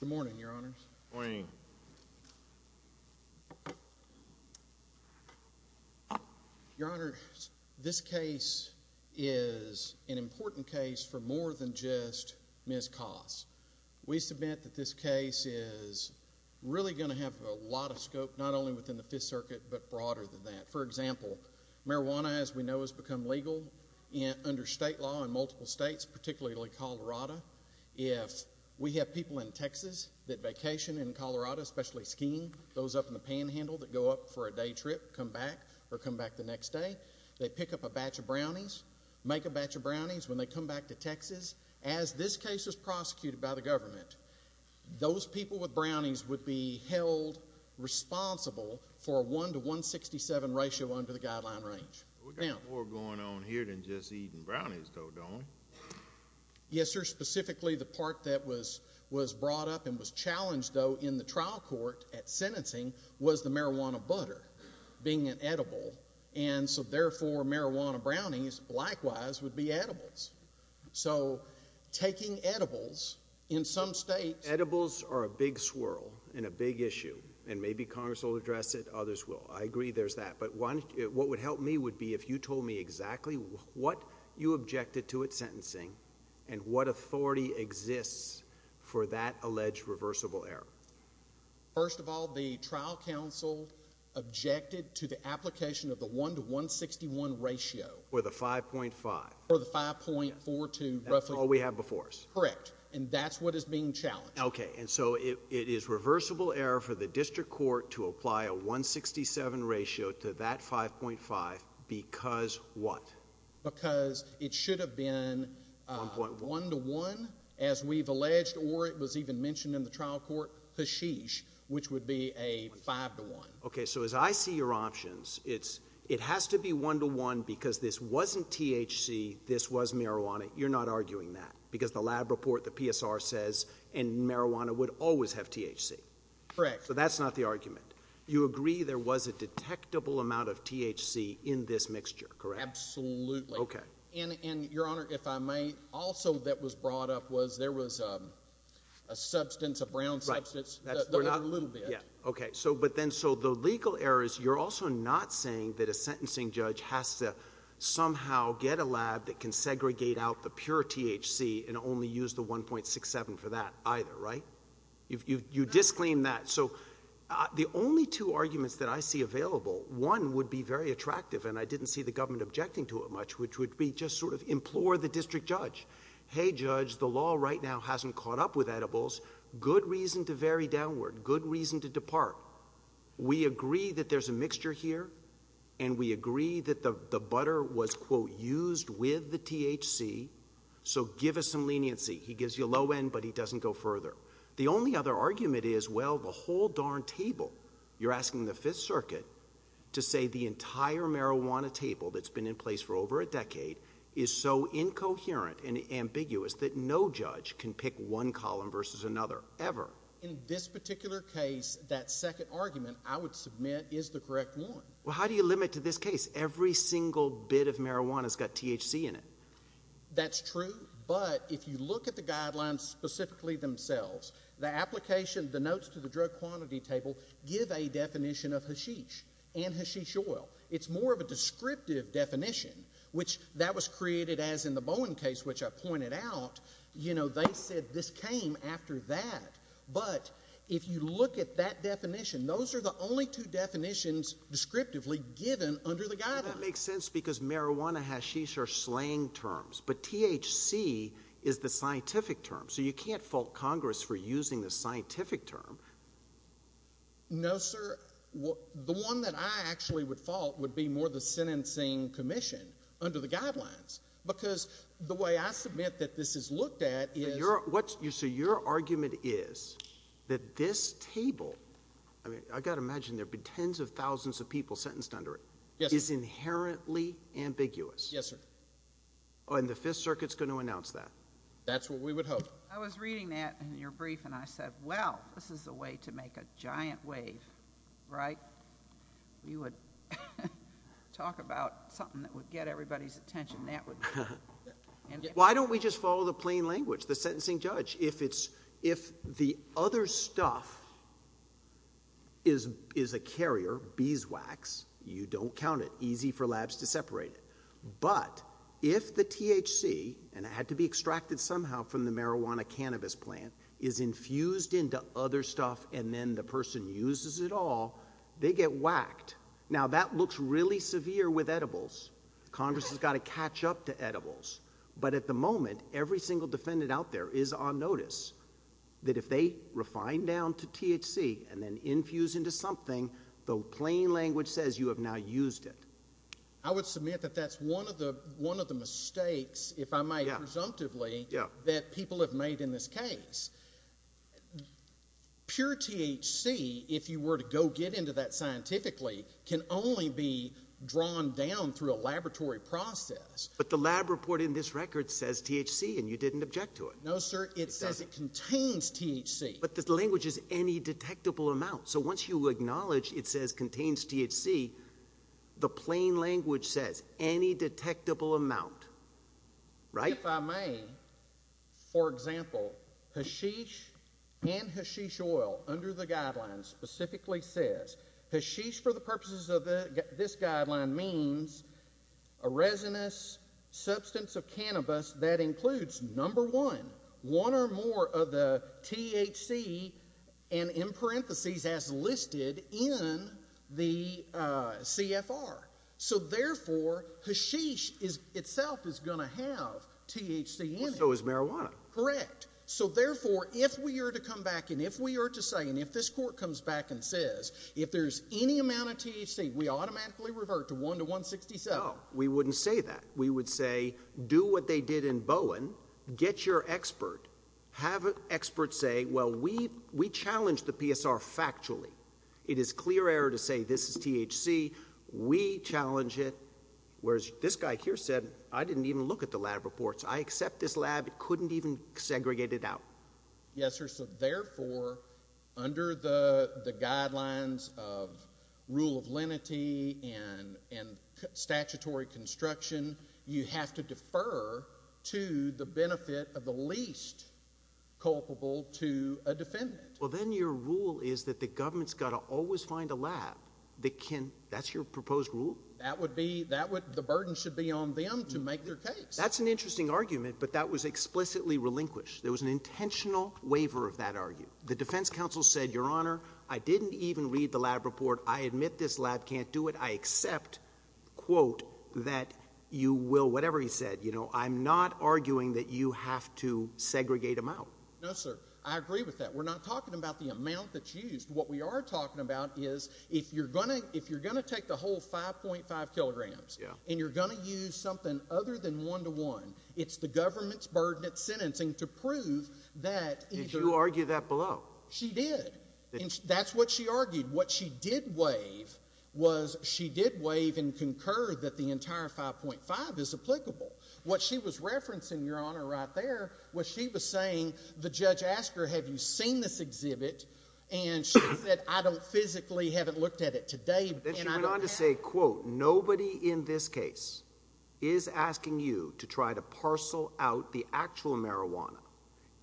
Good morning, Your Honors. This case is an important case for more than just Ms. Koss. We submit that this case is really going to have a lot of scope, not only within the Fifth Circuit, but broader than that. For example, marijuana, as we know, has become legal under state law in multiple states, particularly Colorado. If we have people in Texas that vacation in Colorado, especially skiing, those up in the panhandle that go up for a day trip, come back, or come back the next day, they pick up a batch of brownies, make a batch of brownies, when they come back to Texas. As this case was prosecuted by the government, those people with brownies would be held responsible for a 1 to 167 ratio under the guideline range. We've got more going on here than just eating brownies, though, don't we? Yes, sir. Specifically, the part that was brought up and was challenged, though, in the trial court at sentencing was the marijuana butter being an edible, and so therefore, marijuana brownies likewise would be edibles. So taking edibles, in some states— Edibles are a big swirl and a big issue, and maybe Congress will address it, others will. I agree there's that, but what would help me would be if you told me exactly what you objected to at sentencing and what authority exists for that alleged reversible error. First of all, the trial counsel objected to the application of the 1 to 161 ratio. Or the 5.5. Or the 5.4 to— That's all we have before us. Correct. Correct. And that's what is being challenged. Okay. And so it is reversible error for the district court to apply a 167 ratio to that 5.5 because what? Because it should have been 1 to 1, as we've alleged, or it was even mentioned in the trial court, hashish, which would be a 5 to 1. Okay. So as I see your options, it has to be 1 to 1 because this wasn't THC, this was marijuana. You're not arguing that because the lab report, the PSR says, and marijuana would always have THC. Correct. So that's not the argument. You agree there was a detectable amount of THC in this mixture, correct? Absolutely. Okay. And, Your Honor, if I may, also that was brought up was there was a substance, a brown substance, that was a little bit. Yeah. Okay. So, but then, so the legal errors, you're also not saying that a sentencing judge has to somehow get a lab that can segregate out the pure THC and only use the 1.67 for that either, right? You disclaim that. So the only two arguments that I see available, one would be very attractive, and I didn't see the government objecting to it much, which would be just sort of implore the district judge. Hey, judge, the law right now hasn't caught up with edibles. Good reason to vary downward, good reason to depart. We agree that there's a mixture here, and we agree that the butter was, quote, used with the THC, so give us some leniency. He gives you a low end, but he doesn't go further. The only other argument is, well, the whole darn table. You're asking the Fifth Circuit to say the entire marijuana table that's been in place for over a decade is so incoherent and ambiguous that no judge can pick one column versus another ever. In this particular case, that second argument I would submit is the correct one. Well, how do you limit to this case? Every single bit of marijuana's got THC in it. That's true, but if you look at the guidelines specifically themselves, the application, the notes to the drug quantity table give a definition of hashish and hashish oil. It's more of a descriptive definition, which that was created as in the Bowen case, which I pointed out, you know, they said this came after that. But if you look at that definition, those are the only two definitions descriptively given under the guidelines. Well, that makes sense because marijuana hashish are slang terms, but THC is the scientific term, so you can't fault Congress for using the scientific term. No, sir. The one that I actually would fault would be more the sentencing commission under the What I would submit that this is looked at is... So your argument is that this table, I mean, I've got to imagine there'd be tens of thousands of people sentenced under it, is inherently ambiguous. Yes, sir. Oh, and the Fifth Circuit's going to announce that? That's what we would hope. I was reading that in your brief, and I said, well, this is a way to make a giant wave, right? We would talk about something that would get everybody's attention, and that would... Why don't we just follow the plain language, the sentencing judge? If the other stuff is a carrier, beeswax, you don't count it. Easy for labs to separate it. But if the THC, and it had to be extracted somehow from the marijuana cannabis plant, is infused into other stuff, and then the person uses it all, they get whacked. Now that looks really severe with edibles. Congress has got to catch up to edibles. But at the moment, every single defendant out there is on notice that if they refine down to THC and then infuse into something, the plain language says you have now used it. I would submit that that's one of the mistakes, if I might presumptively, that people have made in this case. Pure THC, if you were to go get into that scientifically, can only be drawn down through a laboratory process. But the lab report in this record says THC, and you didn't object to it. No, sir. It says it contains THC. But the language is any detectable amount. So once you acknowledge it says contains THC, the plain language says any detectable amount, right? If I may, for example, hashish and hashish oil under the guidelines specifically says hashish for the purposes of this guideline means a resinous substance of cannabis that includes number one, one or more of the THC and in parentheses as listed in the CFR. So therefore, hashish itself is going to have THC in it. So is marijuana. Correct. So therefore, if we were to come back and if we were to say, and if this court comes back and says, if there's any amount of THC, we automatically revert to 1 to 167. No, we wouldn't say that. We would say, do what they did in Bowen, get your expert, have experts say, well, we challenged the PSR factually. It is clear error to say this is THC. We challenge it, whereas this guy here said, I didn't even look at the lab reports. I accept this lab. It couldn't even segregate it out. Yes, sir. So therefore, under the guidelines of rule of lenity and statutory construction, you have to defer to the benefit of the least culpable to a defendant. Well, then your rule is that the government's got to always find a lab that can, that's your proposed rule? That would be, that would, the burden should be on them to make their case. That's an interesting argument, but that was explicitly relinquished. There was an intentional waiver of that argument. The defense counsel said, your honor, I didn't even read the lab report. I admit this lab can't do it. I accept quote that you will, whatever he said, you know, I'm not arguing that you have to segregate them out. No, sir. I agree with that. We're not talking about the amount that's used. What we are talking about is if you're going to, if you're going to take the whole 5.5 kilograms and you're going to use something other than one-to-one, it's the government's burden of sentencing to prove that. Did you argue that below? She did. That's what she argued. What she did waive was she did waive and concur that the entire 5.5 is applicable. What she was referencing, your honor, right there, what she was saying, the judge asked her, have you seen this exhibit? And she said, I don't physically, haven't looked at it today. Then she went on to say, quote, nobody in this case is asking you to try to parcel out the actual marijuana.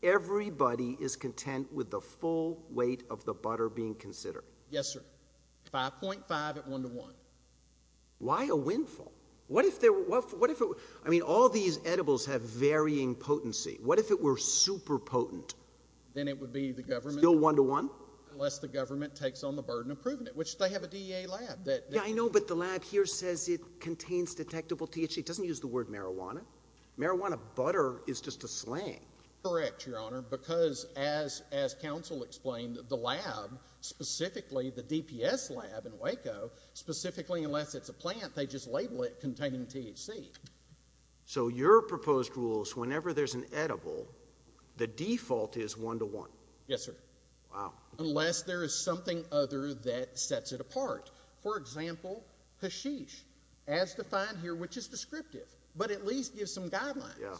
Everybody is content with the full weight of the butter being considered. Yes, sir. 5.5 at one-to-one. Why a windfall? What if there, what if it, I mean, all these edibles have varying potency. What if it were super potent? Then it would be the government. Still one-to-one? Unless the government takes on the burden of proving it, which they have a DEA lab that Yeah, I know, but the lab here says it contains detectable THC. It doesn't use the word marijuana. Marijuana butter is just a slang. Correct, your honor, because as, as counsel explained, the lab, specifically the DPS lab in Waco, specifically, unless it's a plant, they just label it containing THC. So your proposed rules, whenever there's an edible, the default is one-to-one. Yes, sir. Wow. Unless there is something other that sets it apart. For example, hashish as defined here, which is descriptive, but at least gives some guidelines.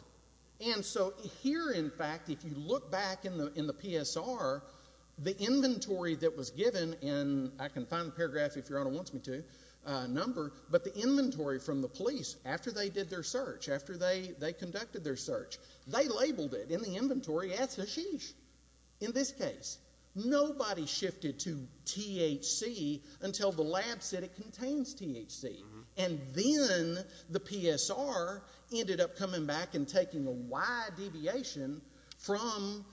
And so here, in fact, if you look back in the, in the PSR, the inventory that was given in, I can find the paragraph if your honor wants me to, number, but the inventory from the police, after they did their search, after they, they conducted their search, they labeled it in the inventory as hashish. In this case, nobody shifted to THC until the lab said it contains THC. And then the PSR ended up coming back and taking a wide deviation from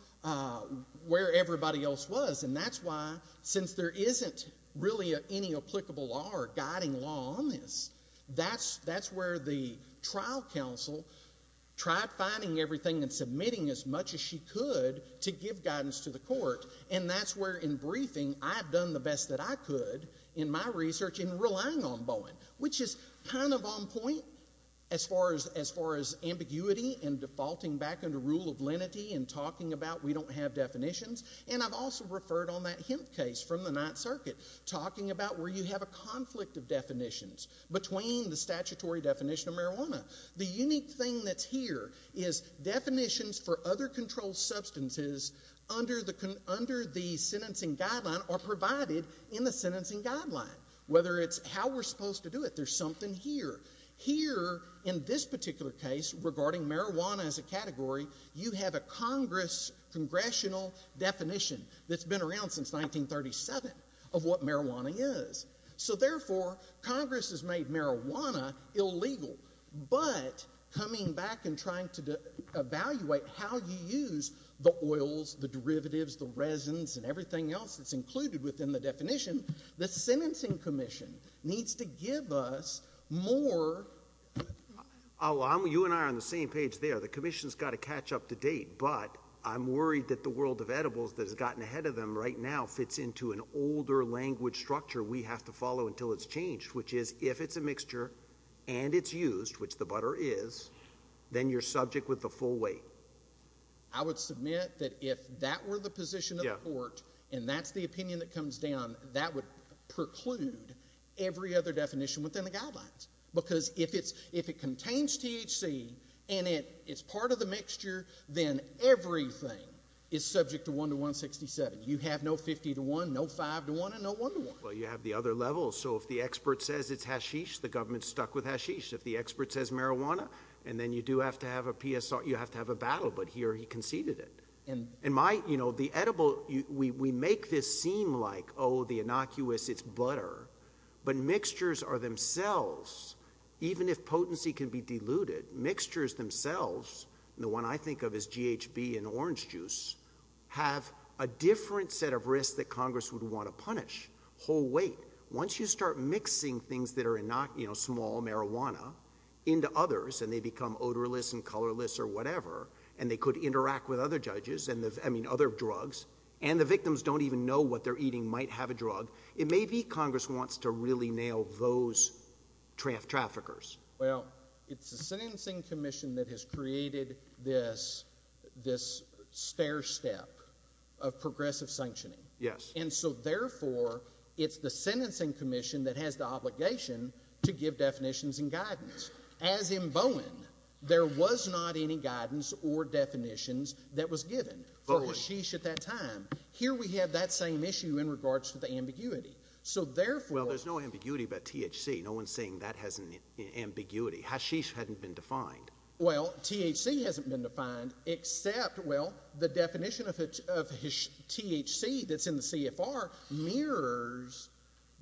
where everybody else was. And that's why, since there isn't really any applicable law or guiding law on this, that's, that's where the trial counsel tried finding everything and submitting as much as she could to give guidance to the court. And that's where, in briefing, I have done the best that I could in my research in relying on Bowen, which is kind of on point as far as, as far as ambiguity and defaulting back under rule of lenity and talking about we don't have definitions. And I've also referred on that Hemp case from the Ninth Circuit, talking about where you have a conflict of definitions between the statutory definition of marijuana. The unique thing that's here is definitions for other controlled substances under the, under the sentencing guideline are provided in the sentencing guideline. Whether it's how we're supposed to do it, there's something here. Here, in this particular case, regarding marijuana as a category, you have a Congress, congressional definition that's been around since 1937 of what marijuana is. So, therefore, Congress has made marijuana illegal. But, coming back and trying to evaluate how you use the oils, the derivatives, the resins, and everything else that's included within the definition, the Sentencing Commission needs to give us more. Oh, I'm, you and I are on the same page there. The Commission's got to catch up to date, but I'm worried that the world of edibles that has gotten ahead of them right now fits into an older language structure we have to follow until it's changed, which is, if it's a mixture and it's used, which the butter is, then you're subject with the full weight. I would submit that if that were the position of the court, and that's the opinion that comes down, that would preclude every other definition within the guidelines. Because if it's, if it contains THC and it's part of the mixture, then everything is subject to 1 to 167. You have no 50 to 1, no 5 to 1, and no 1 to 1. Well, you have the other levels. So, if the expert says it's hashish, the government's stuck with hashish. If the expert says marijuana, and then you do have to have a PSR, you have to have a battle. But here, he conceded it. And my, you know, the edible, we make this seem like, oh, the innocuous, it's butter. But mixtures are themselves, even if potency can be diluted, mixtures themselves, and the one I think of is GHB and orange juice, have a different set of risks that Congress would want to punish, whole weight. Once you start mixing things that are not, you know, small, marijuana, into others, and they become odorless and colorless or whatever, and they could interact with other judges and the, I mean, other drugs, and the victims don't even know what they're eating might have a drug. It may be Congress wants to really nail those traffickers. Well, it's the Sentencing Commission that has created this, this stair step of progressive sanctioning. Yes. And so, therefore, it's the Sentencing Commission that has the obligation to give definitions and guidance. As in Bowen, there was not any guidance or definitions that was given for hashish at that time. Here we have that same issue in regards to the ambiguity. So, therefore, Well, there's no ambiguity about THC. No one's saying that has an ambiguity. Hashish hadn't been defined. Well, THC hasn't been defined except, well, the definition of THC that's in the CFR mirrors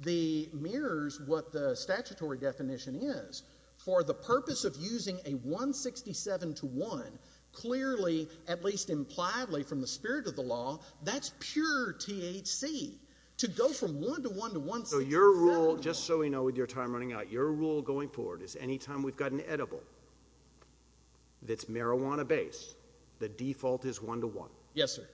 the, mirrors what the statutory definition is. For the purpose of using a 167 to 1, clearly, at least impliedly from the spirit of the law, that's pure THC to go from 1 to 1 to 1. So your rule, just so we know with your time running out, your rule going forward is anytime we've got an edible that's marijuana based, the default is 1 to 1. Yes, sir.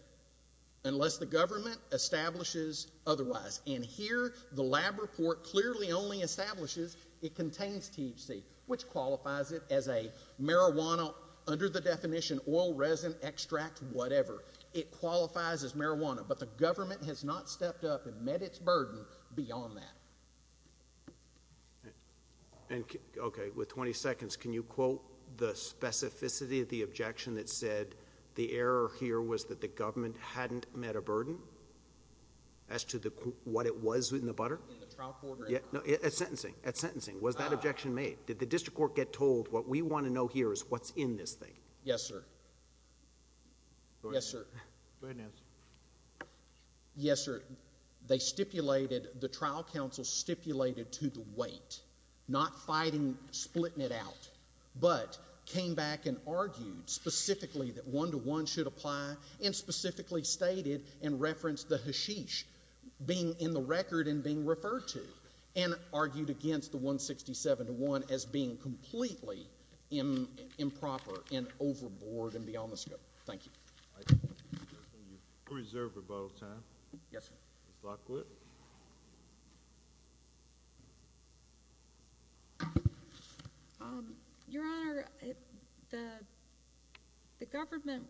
Unless the government establishes otherwise. And here the lab report clearly only establishes it contains THC, which qualifies it as a marijuana under the definition, oil, resin, extract, whatever. It qualifies as marijuana, but the government has not stepped up and met its burden beyond that. And OK, with 20 seconds, can you quote the specificity of the objection that said the error here was that the government hadn't met a burden as to what it was in the butter? In the trial court? Yeah, no, at sentencing, at sentencing. Was that objection made? Did the district court get told what we want to know here is what's in this thing? Yes, sir. Yes, sir. Go ahead, Nance. Yes, sir. They stipulated, the trial council stipulated to the weight, not fighting, splitting it out, but came back and argued specifically that 1 to 1 should apply and specifically stated and referenced the hashish being in the record and being referred to and argued against the 167 to 1 as being completely improper and overboard and beyond the scope. Thank you. Reserved rebuttal time. Yes, sir. Your honor, the government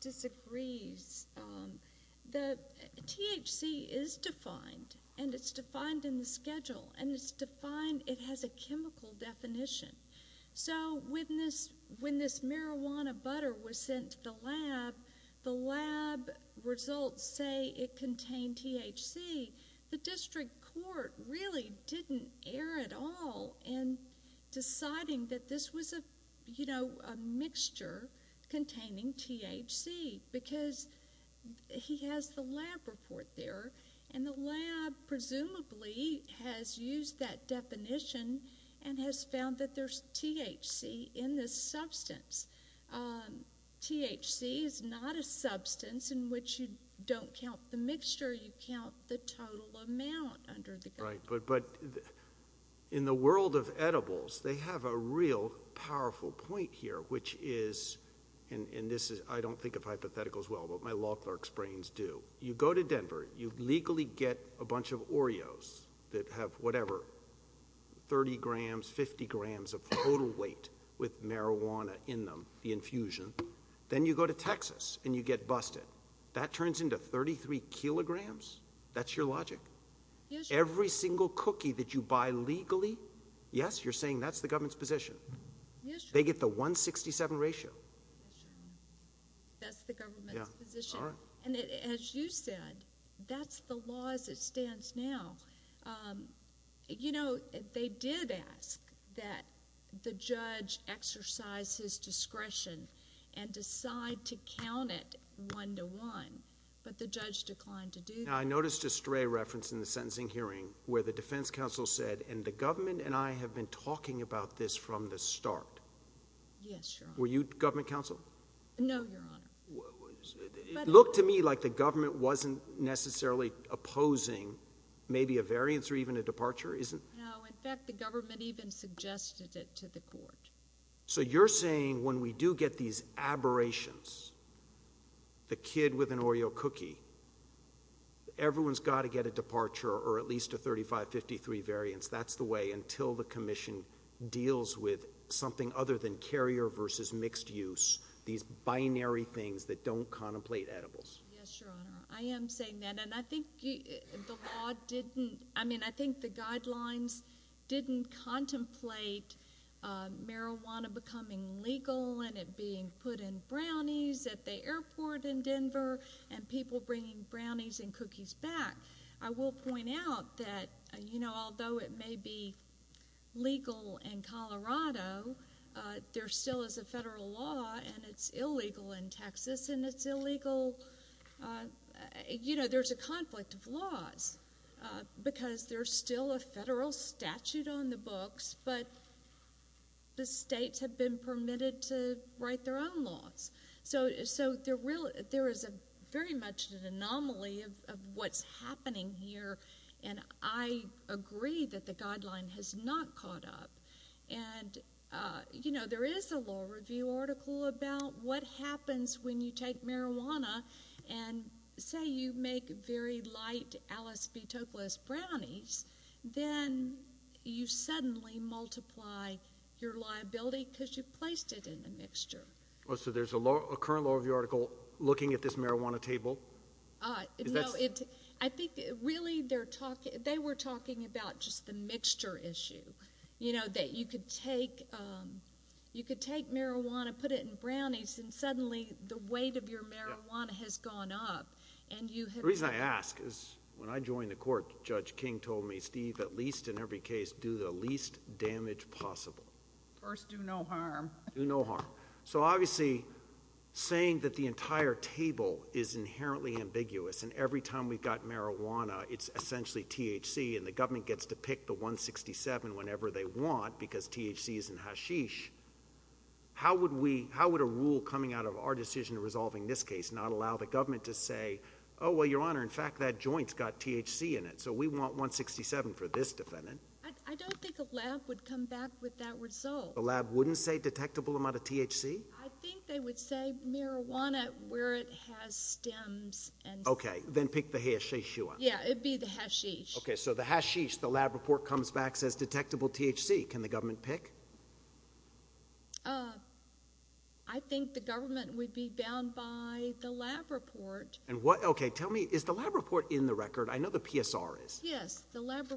disagrees that THC is defined and it's defined in the record and it's defined, it has a chemical definition. So when this marijuana butter was sent to the lab, the lab results say it contained THC, the district court really didn't err at all in deciding that this was a mixture containing THC because he has the lab report there and the lab presumably has used that definition and has found that there's THC in this substance. THC is not a substance in which you don't count the mixture. You count the total amount under the... Right, but in the world of edibles, they have a real powerful point here, which is, and this is, I don't think of hypotheticals well, but my law clerk's brains do. You go to Denver, you legally get a bunch of Oreos that have whatever, 30 grams, 50 grams of total weight with marijuana in them, the infusion. Then you go to Texas and you get busted. That turns into 33 kilograms. That's your logic. Every single cookie that you buy legally, yes, you're saying that's the government's position. They get the 167 ratio. That's the government's position. As you said, that's the law as it stands now. They did ask that the judge exercise his discretion and decide to count it one to one, but the judge declined to do that. I noticed a stray reference in the sentencing hearing where the defense counsel said, and the government and I have been talking about this from the start. Yes, Your Honor. Were you government counsel? No, Your Honor. It looked to me like the government wasn't necessarily opposing maybe a variance or even a departure, isn't it? No. In fact, the government even suggested it to the court. So you're saying when we do get these aberrations, the kid with an Oreo cookie, everyone's got to get a departure or at least a 35, 53 variance. That's the way until the commission deals with something other than carrier versus mixed use, these binary things that don't contemplate edibles. Yes, Your Honor. I am saying that. And I think the law didn't, I mean, I think the guidelines didn't contemplate marijuana becoming legal and it being put in brownies at the airport in Denver and people bringing brownies and cookies back. I will point out that, you know, although it may be legal in Colorado, there still is a federal law and it's illegal in Texas and it's illegal, uh, you know, there's a conflict of laws, uh, because there's still a federal statute on the books, but the states have been permitted to write their own laws. So, so there really, there is a very much an anomaly of what's happening here. And I agree that the guideline has not caught up. And, uh, you know, there is a law review article about what happens when you take marijuana and say, you make very light Alice B. Toklas brownies, then you suddenly multiply your liability because you placed it in a mixture. Well, so there's a law, a current law review article looking at this marijuana table. Uh, I think really they're talking, they were talking about just the mixture issue. You know, that you could take, um, you could take marijuana, put it in brownies and suddenly the weight of your marijuana has gone up and you have reason I ask is when I joined the court, judge King told me, Steve, at least in every case, do the least damage possible. First, do no harm, do no harm. So obviously saying that the entire table is inherently ambiguous. And every time we've got marijuana, it's essentially THC and the government gets to pick the one 67 whenever they want because THC is in hashish. How would we, how would a rule coming out of our decision resolving this case not allow the government to say, oh, well, your honor, in fact, that joints got THC in it. So we want one 67 for this defendant. I don't think a lab would come back with that result. The lab wouldn't say detectable amount of THC. I think they would say marijuana where it has stems and okay. Then pick the hash issue. Yeah. It'd be the hashish. Okay. So if the lab report comes back, says detectable THC, can the government pick? Uh, I think the government would be bound by the lab report. And what, okay. Tell me, is the lab report in the record? I know the PSR is,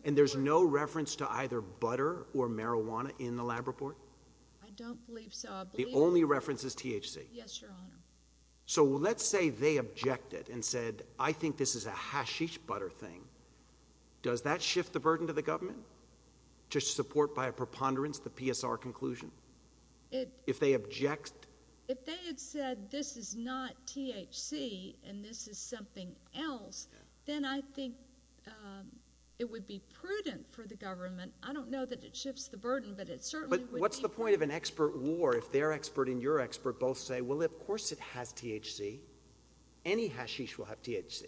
and there's no reference to either butter or marijuana in the lab report. I don't believe so. The only reference is THC. Yes, your honor. So let's say they objected and said, I think this is a hashish butter thing. Does that shift the burden to the government to support by a preponderance, the PSR conclusion, if they object, if they had said, this is not THC and this is something else, then I think, um, it would be prudent for the government. I don't know that it shifts the burden, but it's certainly, what's the point of an expert war? If they're expert in your expert, both say, well, of course it has THC. Any hashish will have THC.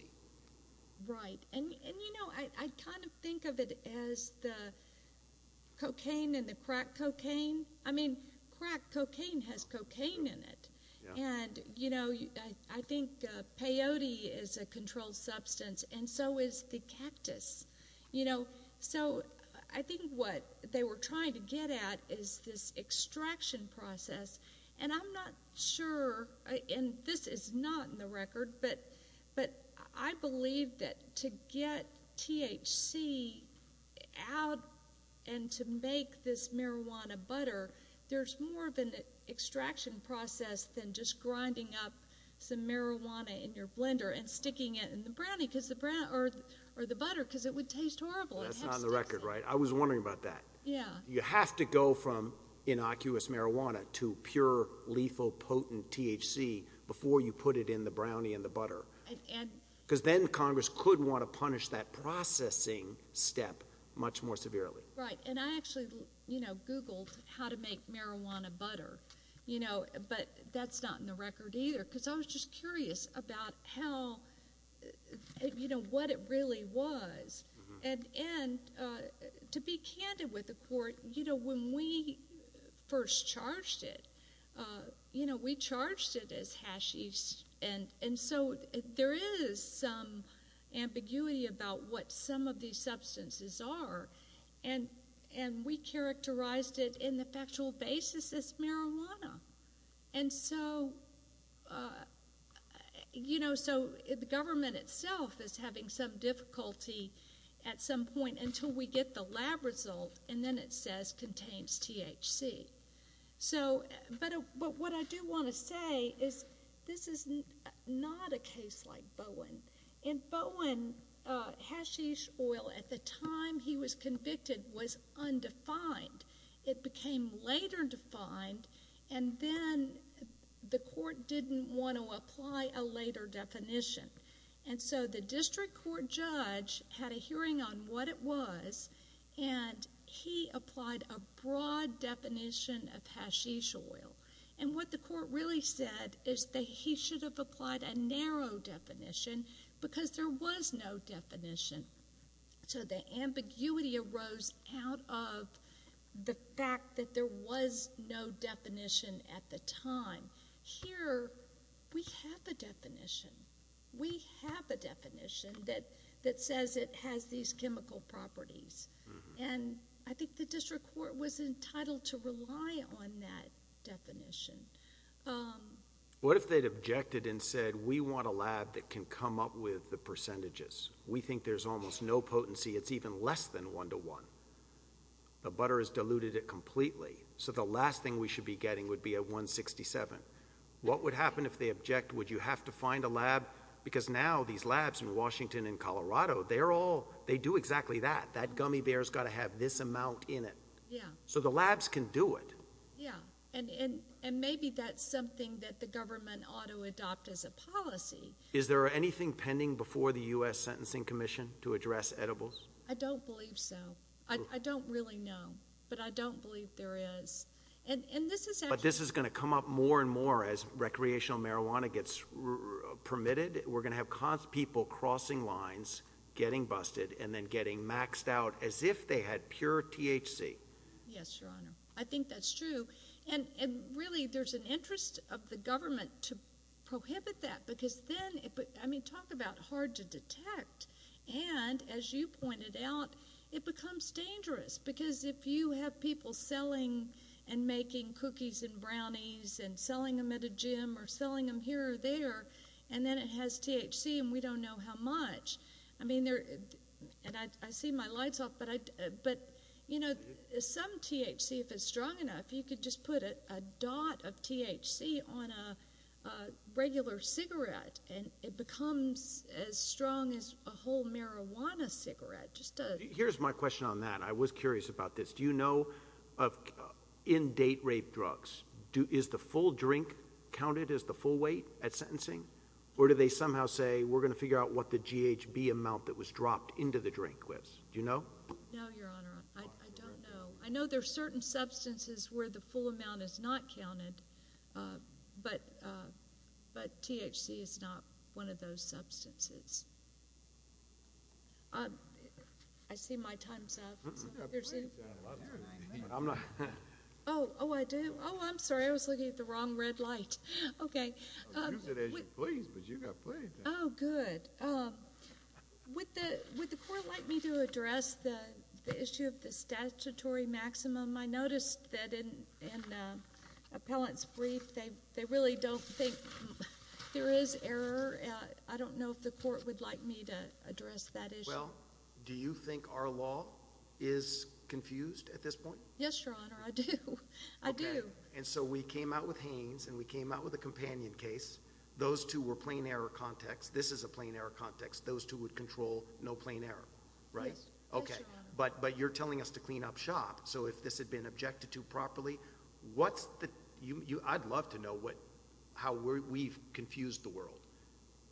Right. And, and, you know, I, I kind of think of it as the cocaine and the crack cocaine. I mean, crack cocaine has cocaine in it and you know, I think peyote is a controlled substance and so is the cactus, you know, so I think what they were trying to get at is this extraction process. And I'm not sure, and this is not in the record, but, but I believe that to get THC out and to make this marijuana butter, there's more of an extraction process than just grinding up some marijuana in your blender and sticking it in the brownie because the brown or, or the butter, because it would taste horrible. That's not on the record, right? I was wondering about that. Yeah. You have to go from innocuous marijuana to pure lethal potent THC before you put it in the brownie and the butter. Cause then Congress could want to punish that processing step much more severely. Right. And I actually, you know, Googled how to make marijuana butter, you know, but that's not in the record either. Cause I was just curious about how, you know, what it really was and, and to be candid with the court, you know, when we first charged it you know, we charged it as hashish and, and so there is some ambiguity about what some of these substances are and, and we characterized it in the factual basis as marijuana. And so you know, so the government itself is having some difficulty at some point until we get the lab result and then it says contains THC. So, but what I do want to say is this is not a case like Bowen. In Bowen hashish oil at the time he was convicted was undefined. It became later defined and then the court didn't want to apply a later definition. And so the district court judge had a hearing on what it was and he applied a broad definition of hashish oil. And what the court really said is that he should have applied a narrow definition because there was no definition. So the ambiguity arose out of the fact that there was no definition at the time. Here we have the definition. We have a definition that, that says it has these chemical properties. And I think the district court was entitled to rely on that definition. Um. What if they'd objected and said, we want a lab that can come up with the percentages. We think there's almost no potency. It's even less than one to one. The butter has diluted it completely. So the last thing we should be getting would be a 167. What would happen if they object? Would you have to find a lab? Because now these labs in Washington and Colorado, they're all, they do exactly that. That gummy bear has got to have this amount in it. Yeah. So the labs can do it. Yeah. And, and, and maybe that's something that the government ought to adopt as a policy. Is there anything pending before the U.S. Sentencing Commission to address edibles? I don't believe so. I don't really know, but I don't believe there is. And, and this is, but this is going to come up more and more as recreational marijuana gets permitted, we're going to have cause people crossing lines, getting busted and then getting maxed out as if they had pure THC. Yes, Your Honor. I think that's true. And really there's an interest of the government to prohibit that because then it, but I mean, talk about hard to detect. And as you pointed out, it becomes dangerous because if you have people selling and making cookies and brownies and selling them at a gym or selling them here or there, and then it has THC and we don't know how much, I mean, there, and I, I see my lights off, but I, but you know, some THC, if it's strong enough, you could just put a dot of THC on a regular cigarette and it becomes as strong as a whole marijuana cigarette, just to, here's my question on that. I was curious about this. Do you know of, in date rape drugs, do, is the full drink counted as the full weight at sentencing or do they somehow say, we're going to figure out what the GHB amount that was dropped into the drink was, do you know? No, Your Honor. I don't know. I know there are certain substances where the full amount is not counted. Uh, but, uh, but THC is not one of those substances. Um, I see my time's up. I'm not, oh, oh, I do. Oh, I'm sorry. I was looking at the wrong red light. Okay. Oh, good. Um, would the, would the court like me to address the issue of the statutory maximum? I noticed that in, in, uh, appellant's brief, they, they really don't think there is error, uh, I don't know if the court would like me to address that issue. Do you think our law is confused at this point? Yes, Your Honor. I do. I do. And so we came out with Haynes and we came out with a companion case. Those two were plain error context. This is a plain error context. Those two would control no plain error, right? Okay. But, but you're telling us to clean up shop. So if this had been objected to properly, what's the, you, you, I'd love to know what, how we're, we've confused the world.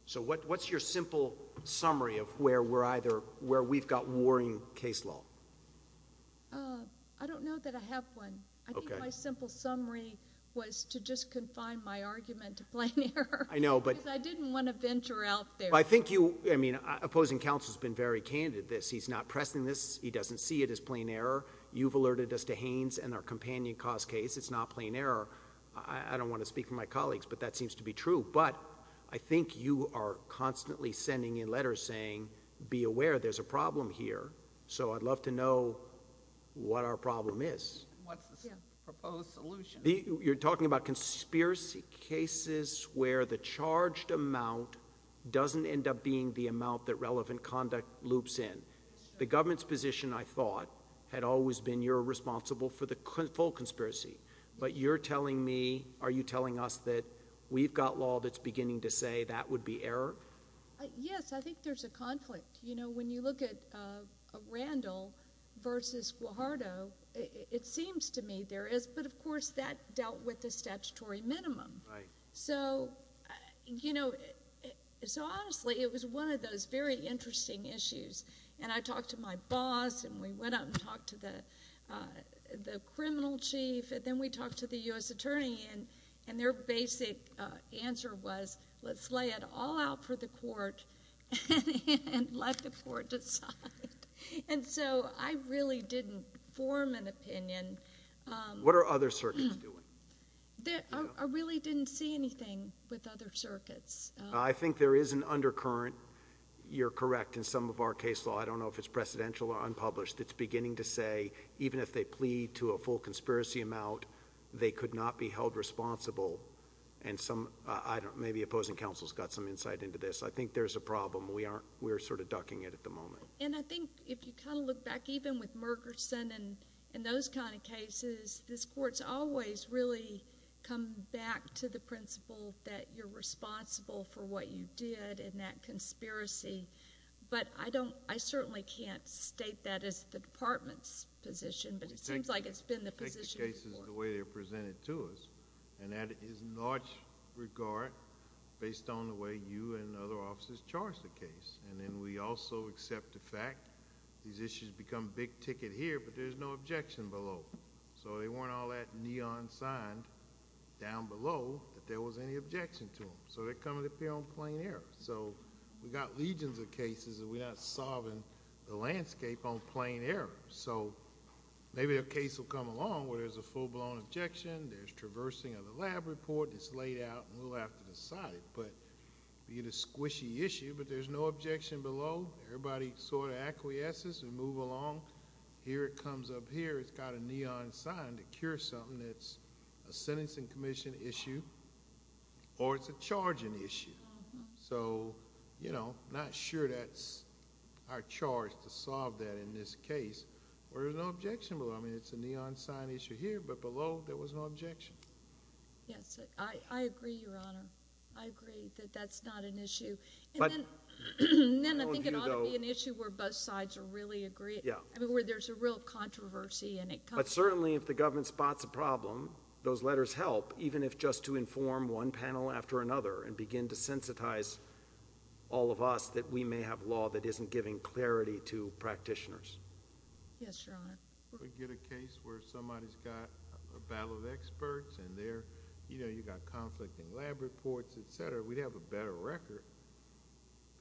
So what, what's your simple summary of where we're either, where we've got warring case law? Uh, I don't know that I have one. I think my simple summary was to just confine my argument to plain error. I know, but I didn't want to venture out there. I think you, I mean, opposing counsel has been very candid. This, he's not pressing this. He doesn't see it as plain error. You've alerted us to Haynes and our companion cause case. It's not plain error. I don't want to speak for my colleagues, but that seems to be true. But I think you are constantly sending in letters saying, be aware there's a problem here. So I'd love to know what our problem is. What's the proposed solution? You're talking about conspiracy cases where the charged amount doesn't end up being the amount that relevant conduct loops in the government's position. I thought had always been, you're responsible for the full conspiracy, but you're telling me, are you telling us that we've got law that's beginning to say that would be error? Yes. I think there's a conflict, you know, when you look at, uh, Randall versus Guajardo, it seems to me there is, but of course that dealt with the statutory minimum. So, you know, so honestly, it was one of those very interesting issues. And I talked to my boss and we went out and talked to the, uh, the criminal chief. And then we talked to the U.S. attorney and, and their basic answer was, let's lay it all out for the court and let the court decide. And so I really didn't form an opinion. Um, what are other circuits doing? That I really didn't see anything with other circuits. I think there is an undercurrent. You're correct. In some of our case law, I don't know if it's presidential or unpublished. It's beginning to say, even if they plead to a full conspiracy amount, they could not be held responsible. And some, uh, I don't, maybe opposing counsel's got some insight into this. I think there's a problem. We aren't, we're sort of ducking it at the moment. And I think if you kind of look back, even with Mergerson and, and those kinds of cases, this court's always really come back to the principle that you're responsible for what you did in that conspiracy. But I don't, I certainly can't state that as the department's position, but it seems like it's been the position of the court. We take the cases the way they're presented to us. And that is in large regard based on the way you and other officers charge the case. And then we also accept the fact these issues become big ticket here, but there's no objection below. So they weren't all that neon signed down below that there was any objection to them. So they're coming up here on plain air. So we've got legions of cases that we're not solving the landscape on plain air. So maybe a case will come along where there's a full blown objection. There's traversing of the lab report. It's laid out and we'll have to decide, but be it a squishy issue, but there's no objection below. Everybody sort of acquiesces and move along here. It comes up here. It's got a neon sign to cure something that's a sentencing commission issue or it's a charging issue. So, you know, not sure that's our charge to solve that in this case where there's no objection below. I mean, it's a neon sign issue here, but below there was no objection. Yes, I agree, Your Honor. I agree that that's not an issue. But then I think it ought to be an issue where both sides are really agree. Yeah. I mean, where there's a real controversy and it comes. But certainly if the government spots a problem, those letters help, even if just to inform one panel after another and begin to sensitize all of us that we may have law that isn't giving clarity to practitioners. Yes, Your Honor. We get a case where somebody's got a battle of experts and there, you know, you've got conflicting lab reports, et cetera. We'd have a better record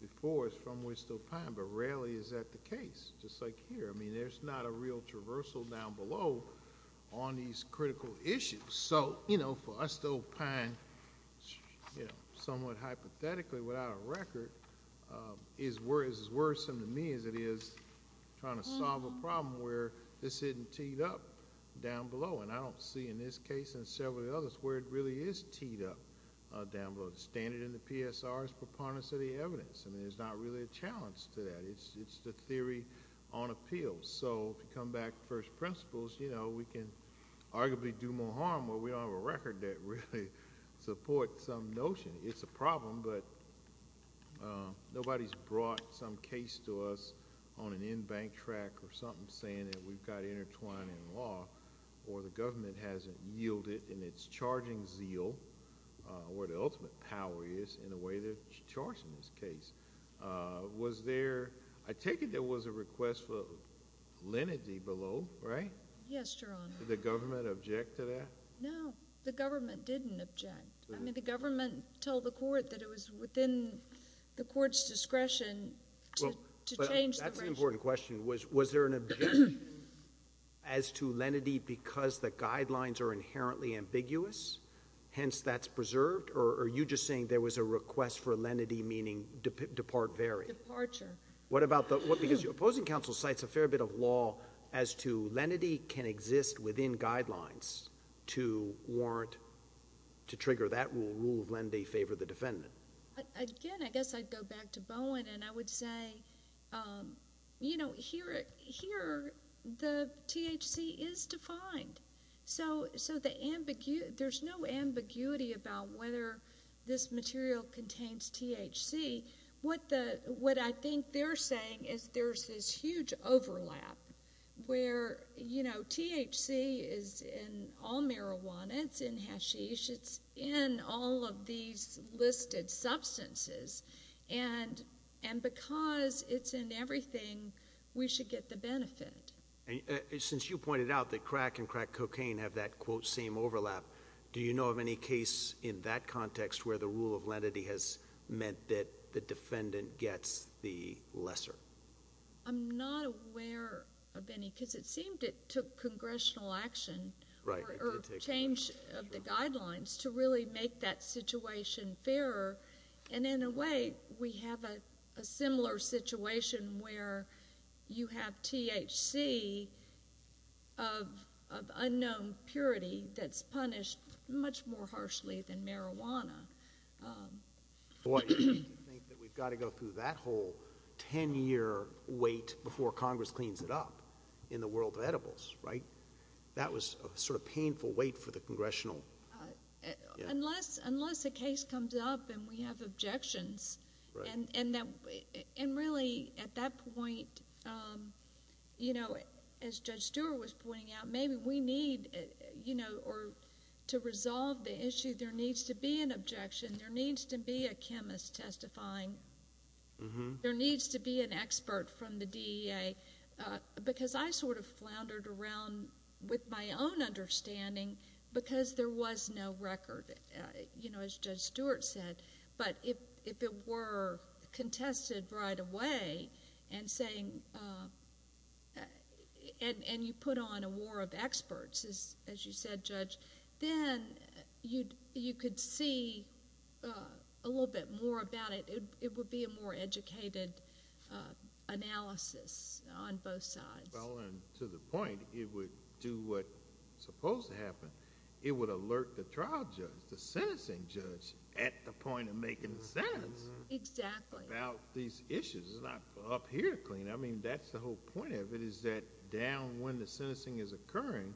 before it's from Wistopine, but rarely is that the case, just like here. I mean, there's not a real traversal down below on these critical issues. So, you know, for us, Wistopine, you know, somewhat hypothetically without a record, is as worrisome to me as it is trying to solve a problem where this isn't teed up down below. And I don't see in this case and several others where it really is teed up down below. The standard in the PSR is preponderance of the evidence. I mean, there's not really a challenge to that. It's the theory on appeal. So, to come back to first principles, you know, we can arguably do more harm where we don't have a record that really supports some notion. It's a problem, but nobody's brought some case to us on an in-bank track or something saying that we've got intertwined in law, or the government hasn't yielded in its charging zeal where the ultimate power is in the way they're charging this case. Was there, I take it there was a request for lenity below, right? Yes, Your Honor. Did the government object to that? No. The government didn't object. I mean, the government told the court that it was within the court's discretion to change the regime. Well, that's an important question. Was there an objection as to lenity because the guidelines are inherently ambiguous, hence that's preserved? Or are you just saying there was a request for lenity meaning depart very? Departure. What about the... Opposing counsel cites a fair bit of law as to lenity can exist within guidelines to warrant, to trigger that rule, rule of lenity favor the defendant. Again, I guess I'd go back to Bowen and I would say, you know, here the THC is defined. So, there's no ambiguity about whether this material contains THC. What I think they're saying is there's this huge overlap where, you know, THC is in all marijuana, it's in hashish, it's in all of these listed substances, and because it's in everything, we should get the benefit. Since you pointed out that crack and crack cocaine have that, quote, same overlap, do you know of any case in that context where the rule of lenity has meant that the defendant gets the lesser? I'm not aware of any because it seemed it took congressional action... Right.... or change of the guidelines to really make that situation fairer. And in a way, we have a similar situation where you have THC of unknown purity that's punished much more harshly than marijuana. Boy, do you think that we've got to go through that whole ten-year wait before Congress cleans it up in the world of edibles, right? That was a sort of painful wait for the congressional... Unless a case comes up and we have objections, and really, at that point, you know, as Judge Stewart was pointing out, maybe we need, you know, or to resolve the issue, there needs to be an objection, there needs to be a chemist testifying, there needs to be an expert from the DEA, because I sort of with my own understanding, because there was no record, you know, as Judge Stewart said, but if it were contested right away and saying... and you put on a war of experts, as you said, Judge, then you could see a little bit more about it. It would be a more educated analysis on both sides. Well, and to the point, it would do what's supposed to happen. It would alert the trial judge, the sentencing judge, at the point of making the sentence... Exactly.... about these issues. It's not up here to clean. I mean, that's the whole point of it, is that down when the sentencing is occurring,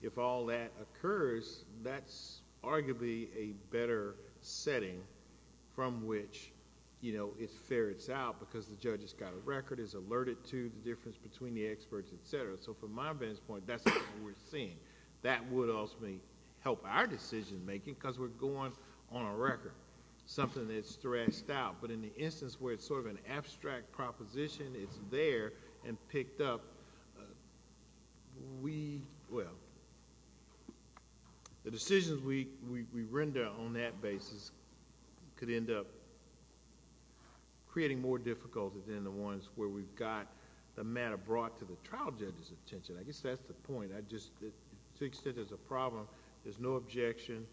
if all that occurs, that's arguably a better setting from which, you know, it ferrets out because the judge has got a record, is it? So, for my best point, that's what we're seeing. That would ultimately help our decision-making, because we're going on a record, something that's stressed out. But in the instance where it's sort of an abstract proposition, it's there and picked up, we... well, the decisions we render on that basis could end up creating more difficulty than the ones where we've got the matter brought to the trial judge's attention. I guess that's the point. I just... to the extent there's a problem, there's no objection,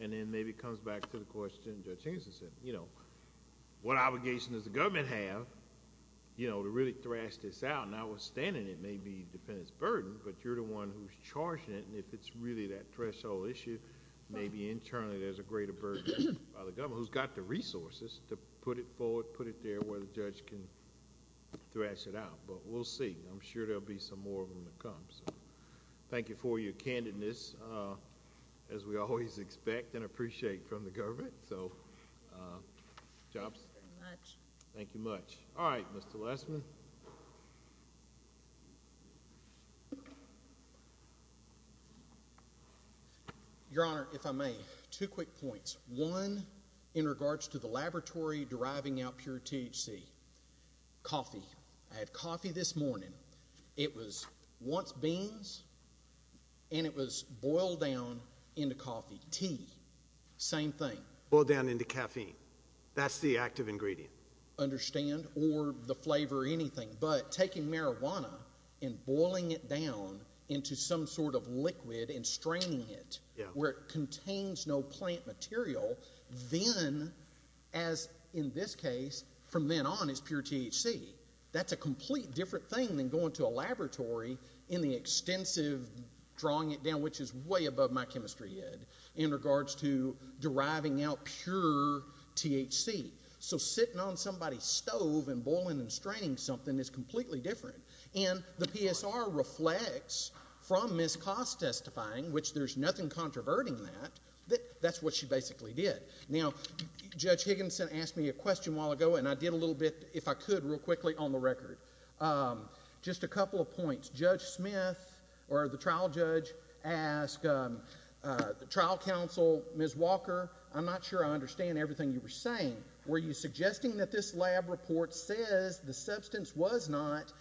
and then maybe it comes back to the question Judge Hinson said, you know, what obligation does the government have, you know, to really thrash this out? Notwithstanding, it may be the defendant's burden, but you're the one who's charging it, and if it's really that threshold issue, maybe internally there's a greater burden by the government who's got the resources to put it forward, put it there where the judge can thrash it out, but we'll see. I'm sure there'll be some more of them to come, so thank you for your candidness, as we always expect and appreciate from the government, so... Jobs. Thank you very much. Thank you much. All right, Mr. Lessman. Your Honor, if I may, two quick points. One, in regards to the laboratory deriving out pure THC. Coffee. I had coffee this morning. It was once beans, and it was boiled down into coffee, tea. Same thing. Boiled down into caffeine. That's the active ingredient. Understand, or the flavor, anything, but taking marijuana and boiling it down into some sort of liquid and straining it where it contains no plant material, then, as in this case, from then on, it's pure THC. That's a complete different thing than going to a laboratory in the extensive drawing it down, which is way above my chemistry ed, in regards to deriving out pure THC. So sitting on somebody's stove and boiling and straining something is completely different, and the PSR reflects from Ms. Cost testifying, which there's nothing controverting that. That's what she basically did. Now, Judge Higginson asked me a question a while ago, and I did a little bit, if I could, real quickly on the record. Just a couple of points. Judge Smith, or the trial judge, asked the trial counsel, Ms. Walker, I'm not sure I understand everything you were saying. Were you suggesting that this lab report says the substance was not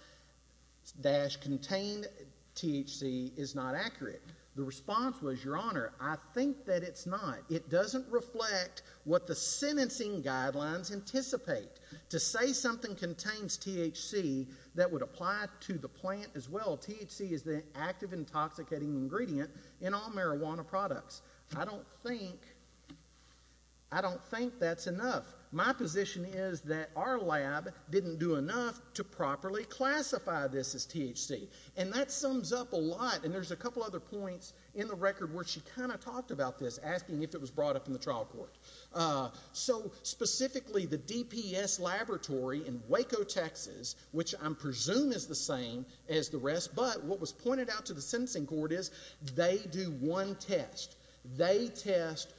dash contained THC is not accurate? The response was, Your Honor, I think that it's not. It doesn't reflect what the sentencing guidelines anticipate. To say something contains THC that would apply to the plant as well, THC is the active intoxicating ingredient in all marijuana products. I don't think, I don't think that's enough. My position is that our lab didn't do enough to properly classify this as THC. And that sums up a lot, and there's a couple other points in the record where she kind of talked about this, asking if it was brought up in the trial court. So specifically, the DPS laboratory in Waco, Texas, which I presume is the same as the rest, but what was pointed out to the sentencing court is, they do one test. They test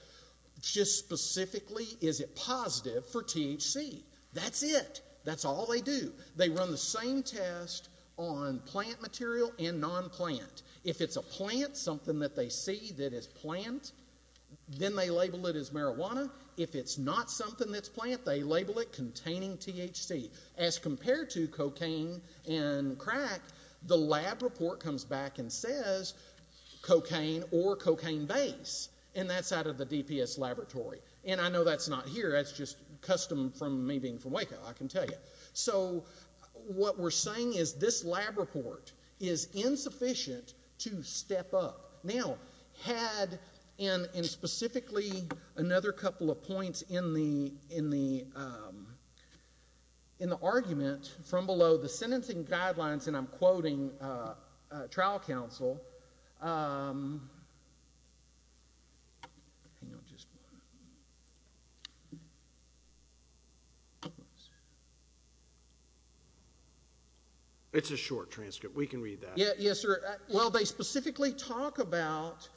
just specifically, is it positive for THC? That's it. That's all they do. They run the same test on plant material and non-plant. If it's a plant, something that they see that is plant, then they label it as marijuana. If it's not something that's plant, they label it containing THC. As compared to cocaine and crack, the lab report comes back and says cocaine or cocaine base, and that's out of the DPS laboratory. And I know that's not here, that's just custom from me being from Waco, I can tell you. So what we're saying is this lab report is insufficient to step up. Now, had, and specifically another couple of points in the argument from below, the sentencing guidelines, and I'm quoting trial counsel, It's a short transcript. We can read that. Yes, sir. Well, they specifically talk about,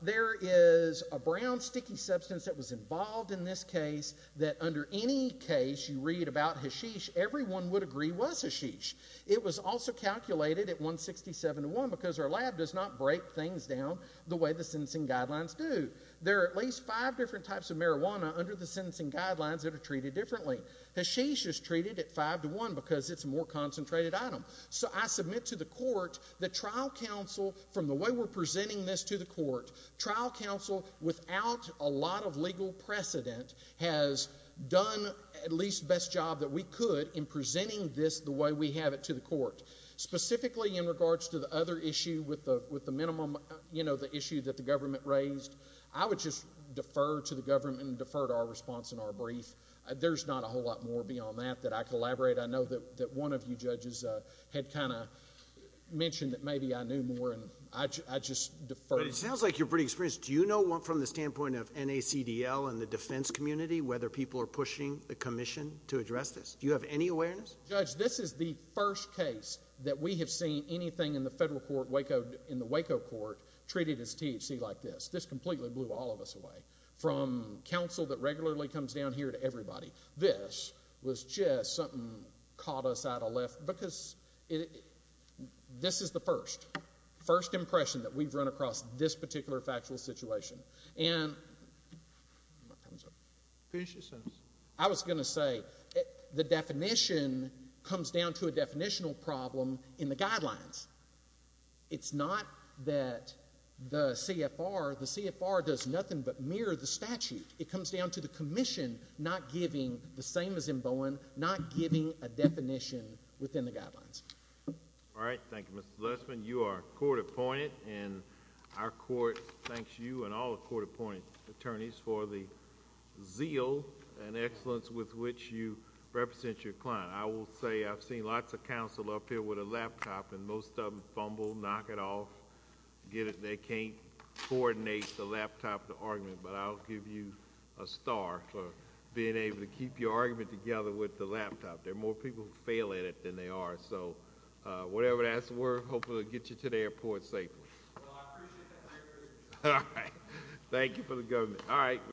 there is a brown sticky substance that was involved in this case, that under any case you read about hashish, everyone would agree was hashish. It was also calculated at 167 to 1, because our lab does not break things down the way the sentencing guidelines do. There are at least five different types of marijuana under the sentencing guidelines that are treated differently. Hashish is treated at 5 to 1, because it's a more concentrated item. So I submit to the court that trial counsel, from the way we're presenting this to the court, trial counsel, without a lot of legal precedent, has done at least the best job that we could in presenting this the way we have it to the court. Specifically in regards to the other issue with the minimum, you know, the issue that the government raised, I would just defer to the government and defer to our response in our brief. There's not a whole lot more beyond that that I collaborate. I know that one of you judges had kind of mentioned that maybe I knew more, and I just deferred. But it sounds like you're pretty experienced. Do you know from the standpoint of NACDL and the defense community whether people are pushing the commission to address this? Do you have any awareness? Judge, this is the first case that we have seen anything in the federal court, in the Waco court, treated as THC like this. This completely blew all of us away. From counsel that regularly comes down here to everybody, this was just something caught us out of left, because this is the first, first impression that we've run across this particular factual situation. And I was going to say, the definition comes down to a definitional problem in the guidelines. It's not that the CFR, the CFR does nothing but mirror the statute. It comes down to the commission not giving, the same as in Bowen, not giving a definition within the guidelines. All right. Thank you, Mr. Lessman. You are court-appointed, and our court thanks you and all the court-appointed attorneys for the zeal and excellence with which you represent your client. I will say I've seen lots of counsel up here with a laptop, and most of them fumble, knock it off, get it, they can't coordinate the laptop, the argument. But I'll give you a star for being able to keep your argument together with the laptop. There are more people who fail at it than there are. So whatever that's worth, hopefully it'll get you to the airport safely. Well, I appreciate that. Thank you. All right. Thank you for the government. All right.